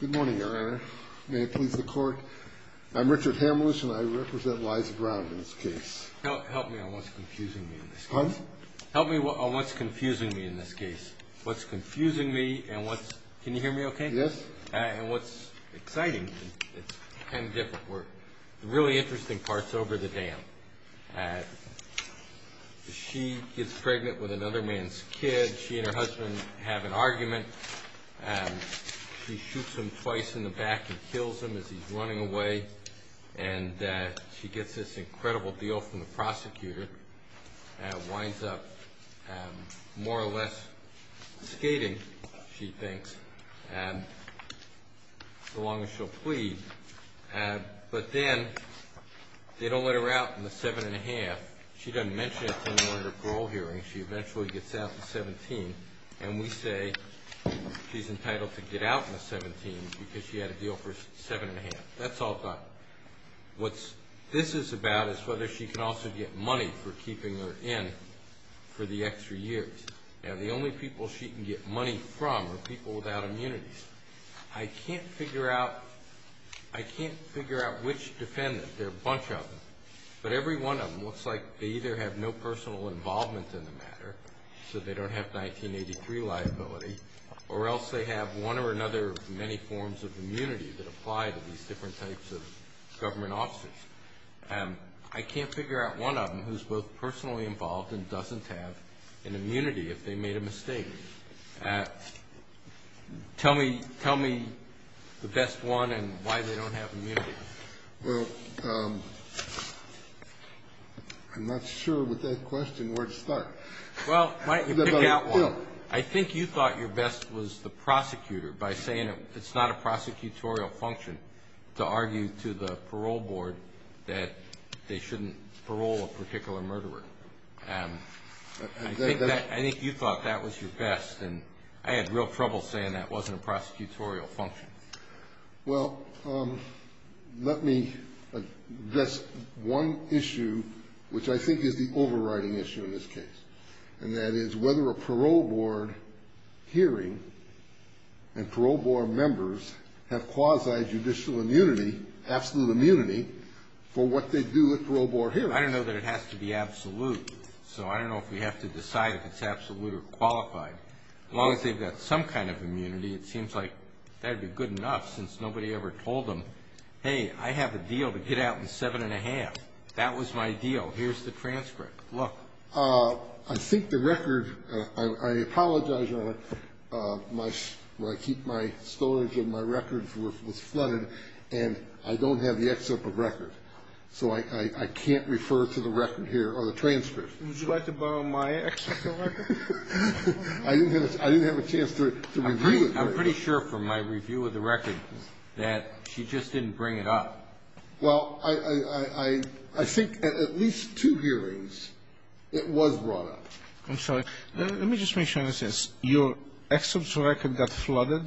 Good morning, Your Honor. May it please the Court, I'm Richard Hamlisch and I represent Liza Brown in this case. Help me on what's confusing me in this case. Pardon? Help me on what's confusing me in this case. What's confusing me and what's, can you hear me okay? Yes. And what's exciting, it's kind of different. The really interesting part's over the dam. She gets pregnant with another man's kid. She and her husband have an argument. She shoots him twice in the back and kills him as he's running away. And she gets this incredible deal from the prosecutor and winds up more or less skating, she thinks, so long as she'll plead. But then they don't let her out in the 7 1⁄2. She doesn't mention it to anyone at her parole hearing. She eventually gets out at 17. And we say she's entitled to get out in the 17 because she had a deal for 7 1⁄2. That's all done. What this is about is whether she can also get money for keeping her in for the extra years. Now the only people she can get money from are people without immunities. I can't figure out which defendant. There are a bunch of them. But every one of them looks like they either have no personal involvement in the matter, so they don't have 1983 liability, or else they have one or another many forms of immunity that apply to these different types of government officers. I can't figure out one of them who's both personally involved and doesn't have an immunity if they made a mistake. Tell me the best one and why they don't have immunity. Well, I'm not sure with that question where to start. Well, why don't you pick out one? I think you thought your best was the prosecutor by saying it's not a prosecutorial function to argue to the parole board that they shouldn't parole a particular murderer. I think you thought that was your best, and I had real trouble saying that wasn't a prosecutorial function. Well, let me address one issue, which I think is the overriding issue in this case, and that is whether a parole board hearing and parole board members have quasi-judicial immunity, absolute immunity, for what they do at parole board hearings. I don't know that it has to be absolute, so I don't know if we have to decide if it's absolute or qualified. As long as they've got some kind of immunity, it seems like that would be good enough, since nobody ever told them, hey, I have a deal to get out in seven and a half. That was my deal. Here's the transcript. Look. I think the record, I apologize, Your Honor, my storage of my records was flooded, and I don't have the excerpt of record, so I can't refer to the record here or the transcript. Would you like to borrow my excerpt of record? I didn't have a chance to review it. I'm pretty sure from my review of the record that she just didn't bring it up. Well, I think at least two hearings it was brought up. I'm sorry. Let me just make sure I understand. Your excerpt of record got flooded?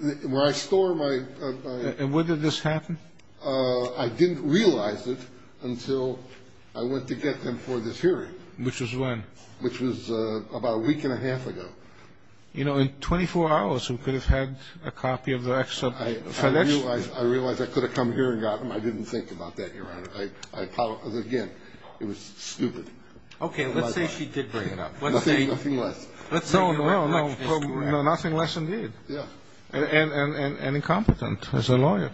When I store my ---- And when did this happen? I didn't realize it until I went to get them for this hearing. Which was when? Which was about a week and a half ago. You know, in 24 hours, who could have had a copy of the excerpt? I realize I could have come here and got them. I didn't think about that, Your Honor. I apologize again. It was stupid. Okay. Let's say she did bring it up. Nothing less. No, no. Nothing less indeed. And incompetent as a lawyer.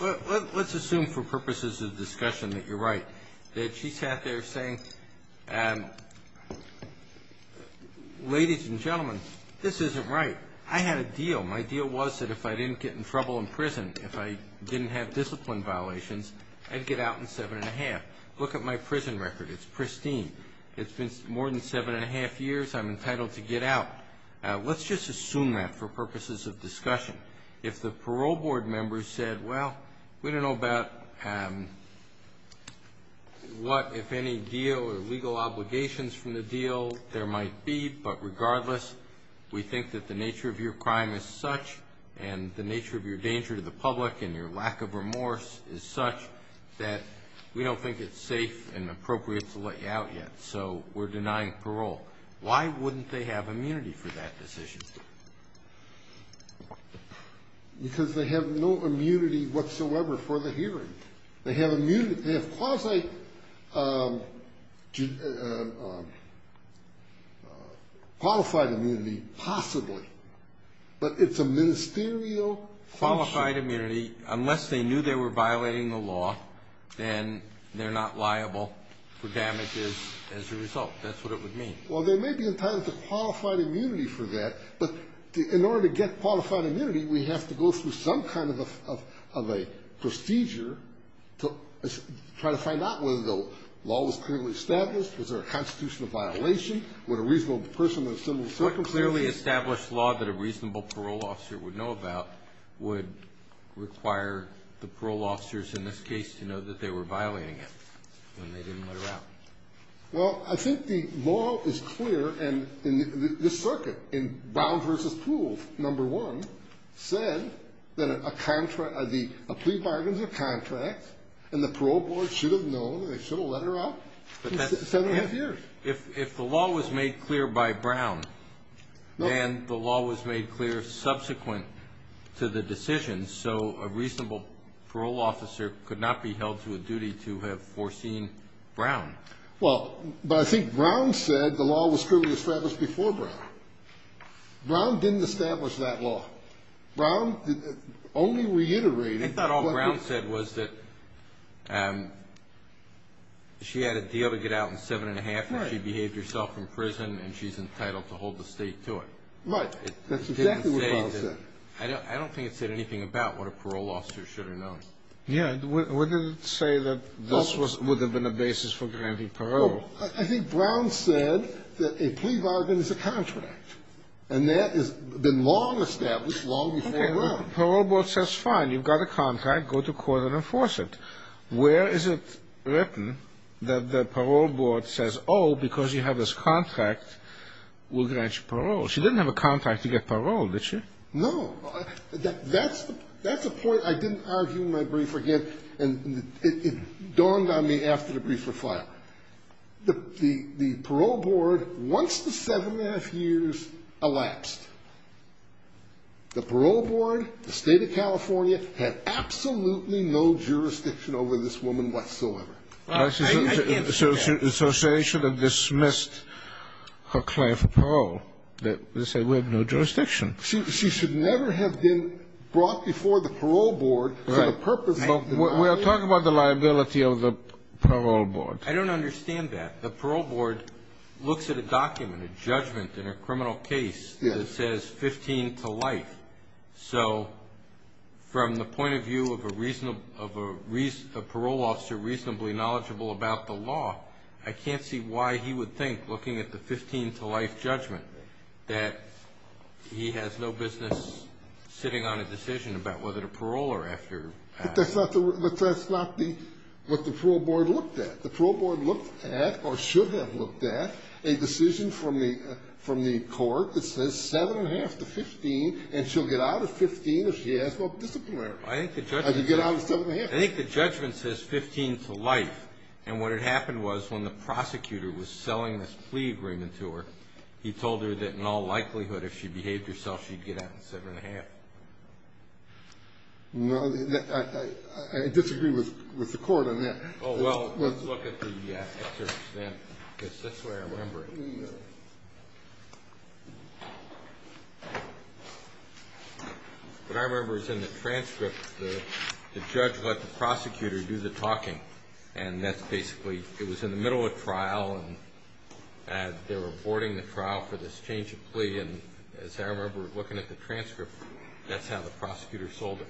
Let's assume for purposes of discussion that you're right, that she sat there saying, ladies and gentlemen, this isn't right. I had a deal. My deal was that if I didn't get in trouble in prison, if I didn't have discipline violations, I'd get out in seven and a half. Look at my prison record. It's pristine. It's been more than seven and a half years. I'm entitled to get out. Let's just assume that for purposes of discussion. If the parole board members said, well, we don't know about what, if any, deal or legal obligations from the deal there might be, but regardless we think that the nature of your crime is such and the nature of your danger to the public and your lack of remorse is such that we don't think it's safe and appropriate to let you out yet, so we're denying parole. Why wouldn't they have immunity for that decision? Because they have no immunity whatsoever for the hearing. They have quasi-qualified immunity, possibly, but it's a ministerial function. Qualified immunity, unless they knew they were violating the law, then they're not liable for damages as a result. That's what it would mean. Well, they may be entitled to qualified immunity for that, but in order to get qualified immunity we have to go through some kind of a procedure to try to find out whether the law was clearly established, was there a constitutional violation, would a reasonable person in a similar circumstance. What clearly established law that a reasonable parole officer would know about would require the parole officers in this case to know that they were violating it when they didn't let her out? Well, I think the law is clear in this circuit, in Brown v. Poole, number one, said that a plea bargain is a contract and the parole board should have known and they should have let her out seven and a half years. If the law was made clear by Brown and the law was made clear subsequent to the decision, so a reasonable parole officer could not be held to a duty to have foreseen Brown. Well, but I think Brown said the law was clearly established before Brown. Brown didn't establish that law. Brown only reiterated. I thought all Brown said was that she had a deal to get out in seven and a half and she's entitled to hold the state to it. Right. That's exactly what Brown said. I don't think it said anything about what a parole officer should have known. Yeah. What did it say that this would have been a basis for granting parole? I think Brown said that a plea bargain is a contract and that has been long established long before Brown. Okay. Well, the parole board says fine, you've got a contract, go to court and enforce it. Where is it written that the parole board says, oh, because you have this contract, we'll grant you parole? She didn't have a contract to get parole, did she? No. That's a point I didn't argue in my brief again and it dawned on me after the brief refile. The parole board, once the seven and a half years elapsed, the parole board, the State of California, had absolutely no jurisdiction over this woman whatsoever. I can't say that. So she should have dismissed her claim for parole. They say we have no jurisdiction. She should never have been brought before the parole board for the purpose of denying it. Right. But we are talking about the liability of the parole board. I don't understand that. The parole board looks at a document, a judgment in a criminal case, that says 15 to life. So from the point of view of a parole officer reasonably knowledgeable about the law, I can't see why he would think, looking at the 15 to life judgment, that he has no business sitting on a decision about whether to parole or after. But that's not what the parole board looked at. The parole board looked at, or should have looked at, a decision from the court that says seven and a half to 15, and she'll get out of 15 if she has disciplinary. I think the judgment says 15 to life. And what had happened was when the prosecutor was selling this plea agreement to her, he told her that in all likelihood, if she behaved herself, she'd get out in seven and a half. No, I disagree with the court on that. Oh, well, let's look at the excerpt, because that's the way I remember it. What I remember is in the transcript, the judge let the prosecutor do the talking. And that's basically, it was in the middle of trial, and they were boarding the trial for this change of plea, and as I remember looking at the transcript, that's how the prosecutor sold it.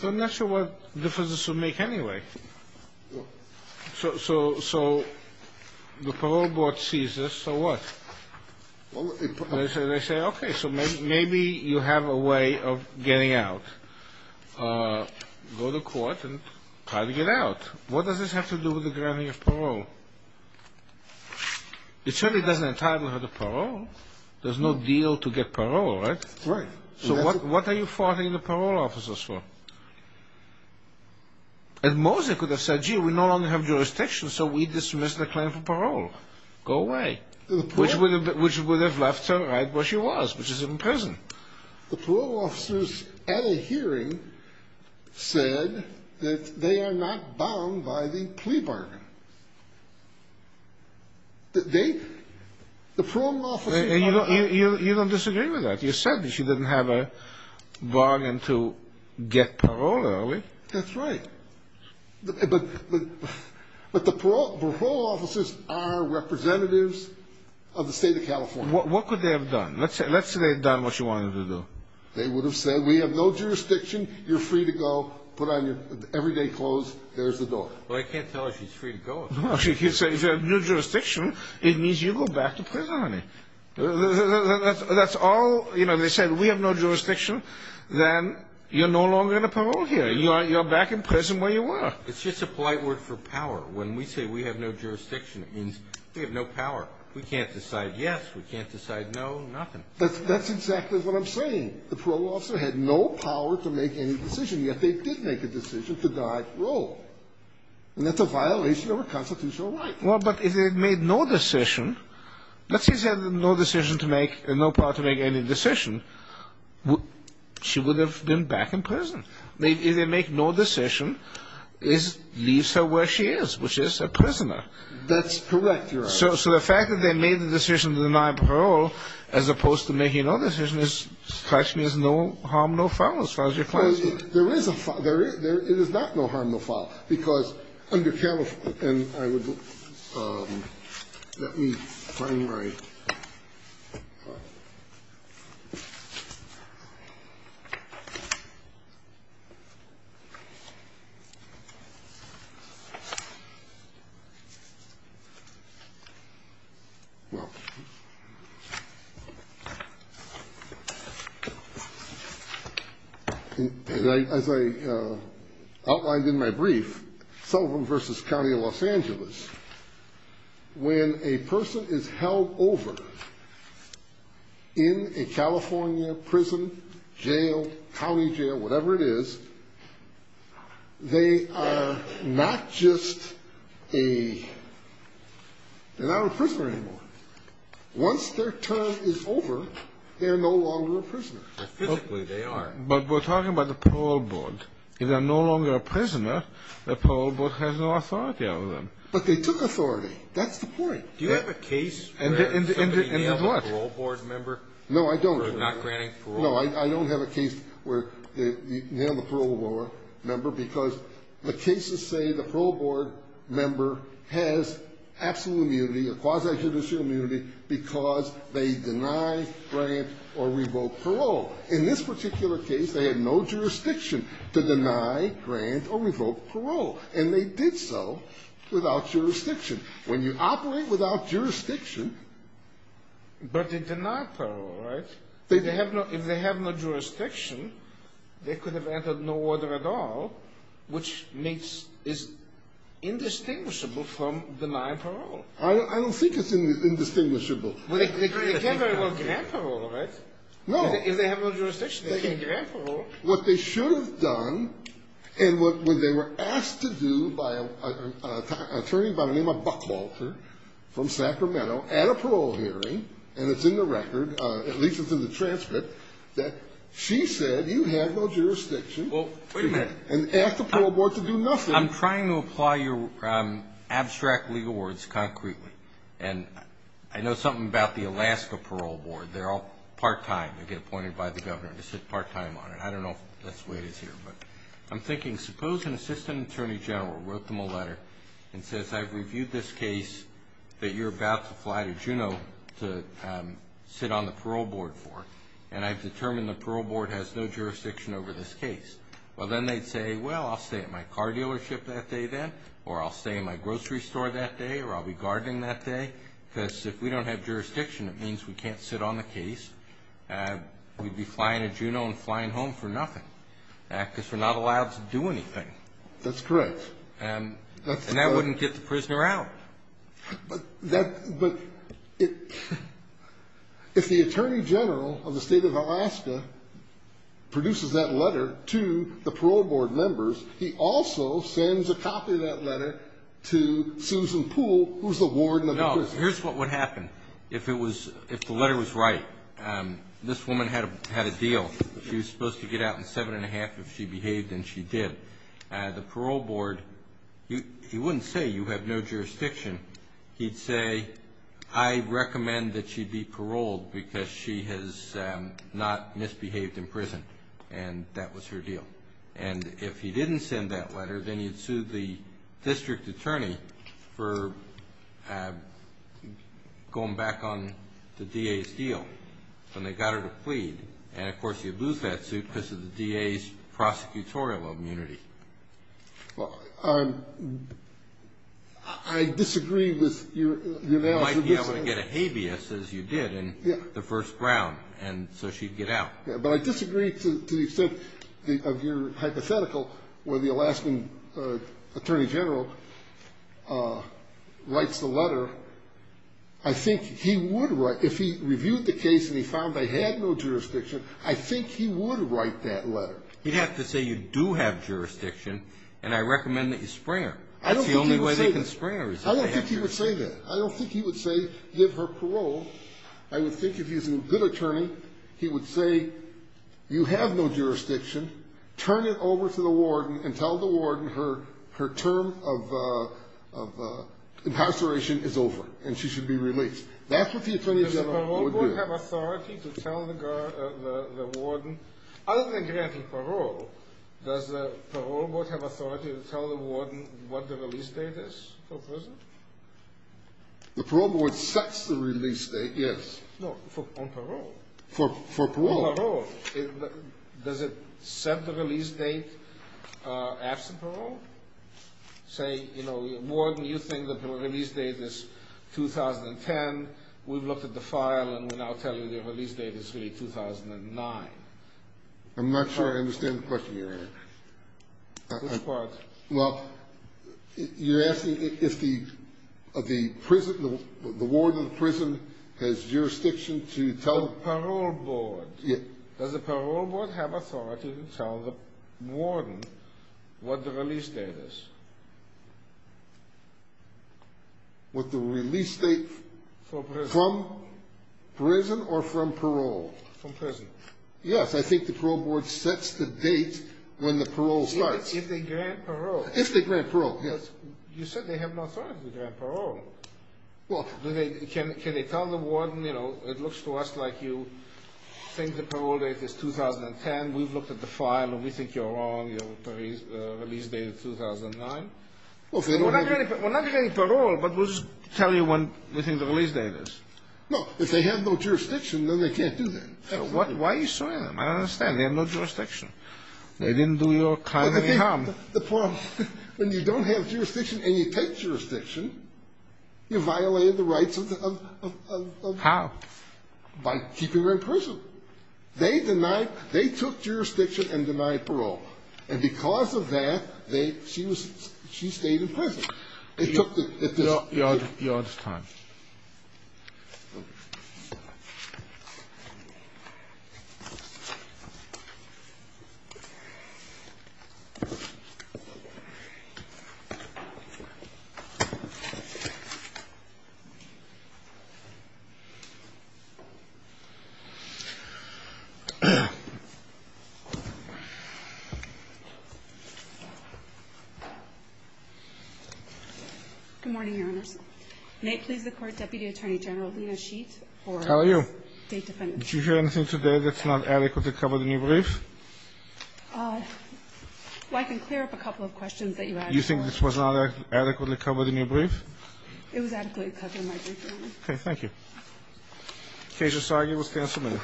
So I'm not sure what difference this would make anyway. So the parole board sees this, so what? They say, okay, so maybe you have a way of getting out. Go to court and try to get out. What does this have to do with the granting of parole? It certainly doesn't entitle her to parole. There's no deal to get parole, right? Right. So what are you farting the parole officers for? And Mosley could have said, gee, we no longer have jurisdiction, so we dismiss the claim for parole. Go away. Which would have left her right where she was, which is in prison. The parole officers at a hearing said that they are not bound by the plea bargain. The parole officers are not. You don't disagree with that. You said that she didn't have a bargain to get parole early. That's right. But the parole officers are representatives of the state of California. What could they have done? Let's say they had done what you wanted them to do. They would have said, we have no jurisdiction. You're free to go. Put on your everyday clothes. There's the door. Well, I can't tell her she's free to go. If you have no jurisdiction, it means you go back to prison, honey. That's all. They said, we have no jurisdiction. Then you're no longer going to parole here. You're back in prison where you were. It's just a polite word for power. When we say we have no jurisdiction, it means we have no power. We can't decide yes, we can't decide no, nothing. That's exactly what I'm saying. The parole officer had no power to make any decision, yet they did make a decision to die at parole. And that's a violation of a constitutional right. Well, but if they had made no decision, let's say they had no decision to make, no power to make any decision, she would have been back in prison. If they make no decision, it leaves her where she is, which is a prisoner. That's correct, Your Honor. So the fact that they made the decision to deny parole, as opposed to making no decision, actually is no harm, no foul as far as you're concerned. There is a foul. It is not no harm, no foul. Because under counsel ---- and I would ---- let me find my ---- Well, as I outlined in my brief, Sullivan v. County of Los Angeles, when a person is held over in a California prison, jail, county jail, whatever it is, they are not just a ---- they're not a prisoner anymore. Once their term is over, they're no longer a prisoner. Physically, they are. But we're talking about the parole board. If they're no longer a prisoner, the parole board has no authority over them. But they took authority. That's the point. Do you have a case where somebody nailed a parole board member for not granting parole? No, I don't. No, I don't have a case where they nailed a parole board member because the cases say the parole board member has absolute immunity or quasi-judicial immunity because they deny, grant, or revoke parole. In this particular case, they had no jurisdiction to deny, grant, or revoke parole. And they did so without jurisdiction. When you operate without jurisdiction ---- But they deny parole, right? They have no ---- if they have no jurisdiction, they could have entered no order at all, which makes ---- is indistinguishable from denying parole. I don't think it's indistinguishable. They can't very well grant parole, right? No. If they have no jurisdiction, they can't grant parole. What they should have done, and what they were asked to do by an attorney by the name of Buckwalter from Sacramento at a parole hearing, and it's in the record, at least it's in the transcript, that she said, you have no jurisdiction. Well, wait a minute. And asked the parole board to do nothing. I'm trying to apply your abstract legal words concretely. And I know something about the Alaska parole board. They're all part-time. They get appointed by the governor to sit part-time on it. I don't know if that's the way it is here. But I'm thinking, suppose an assistant attorney general wrote them a letter and says, I've reviewed this case that you're about to fly to Juneau to sit on the parole board for, and I've determined the parole board has no jurisdiction over this case. Well, then they'd say, well, I'll stay at my car dealership that day then, or I'll stay at my grocery store that day, or I'll be gardening that day. Because if we don't have jurisdiction, it means we can't sit on the case. We'd be flying to Juneau and flying home for nothing because we're not allowed to do anything. That's correct. And that wouldn't get the prisoner out. But if the attorney general of the state of Alaska produces that letter to the parole board members, he also sends a copy of that letter to Susan Poole, who's the warden of the prison. No, here's what would happen if the letter was right. This woman had a deal. She was supposed to get out in seven and a half if she behaved, and she did. The parole board, he wouldn't say you have no jurisdiction. He'd say, I recommend that she be paroled because she has not misbehaved in prison, and that was her deal. And if he didn't send that letter, then he'd sue the district attorney for going back on the DA's deal. And they got her to plead. And, of course, you'd lose that suit because of the DA's prosecutorial immunity. I disagree with your analysis. You might be able to get a habeas, as you did in the first round, and so she'd get out. But I disagree to the extent of your hypothetical where the Alaskan attorney general writes the letter. I think he would write, if he reviewed the case and he found they had no jurisdiction, I think he would write that letter. He'd have to say you do have jurisdiction, and I recommend that you spring her. That's the only way they can spring her is if they have jurisdiction. I don't think he would say that. I don't think he would say give her parole. I would think if he was a good attorney, he would say you have no jurisdiction. Turn it over to the warden and tell the warden her term of incarceration is over and she should be released. That's what the attorney general would do. Does the parole board have authority to tell the warden? Other than granting parole, does the parole board have authority to tell the warden what the release date is for prison? The parole board sets the release date, yes. No, on parole. For parole. On parole. Does it set the release date absent parole? Say, you know, warden, you think the release date is 2010. We've looked at the file, and we're now telling you the release date is really 2009. I'm not sure I understand the question you're asking. Which part? Well, you're asking if the warden of the prison has jurisdiction to tell the parole board. Does the parole board have authority to tell the warden what the release date is? What the release date from prison or from parole? From prison. Yes, I think the parole board sets the date when the parole starts. If they grant parole. If they grant parole, yes. You said they have no authority to grant parole. Can they tell the warden, you know, it looks to us like you think the parole date is 2010. We've looked at the file, and we think you're wrong. The release date is 2009. We're not granting parole, but we'll just tell you when we think the release date is. No, if they have no jurisdiction, then they can't do that. Why are you saying that? I don't understand. They have no jurisdiction. They didn't do your kindly harm. The parole board, when you don't have jurisdiction and you take jurisdiction, you violated the rights of the prison. How? By keeping her in prison. They denied. They took jurisdiction and denied parole. And because of that, she stayed in prison. Your Honor's time. Good morning, Your Honors. May it please the Court, Deputy Attorney General Lena Sheet. How are you? State Defendant. Did you hear anything today that's not adequately covered in your brief? Well, I can clear up a couple of questions that you asked. You think this was not adequately covered in your brief? It was adequately covered in my brief, Your Honor. Okay. Thank you. Kasia Sagi will stand for a minute.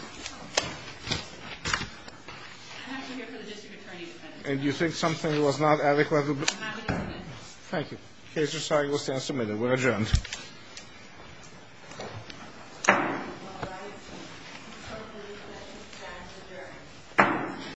I'm actually here for the District Attorney's. And you think something was not adequately. I'm actually here for this. Thank you. Kasia Sagi will stand for a minute. We're adjourned.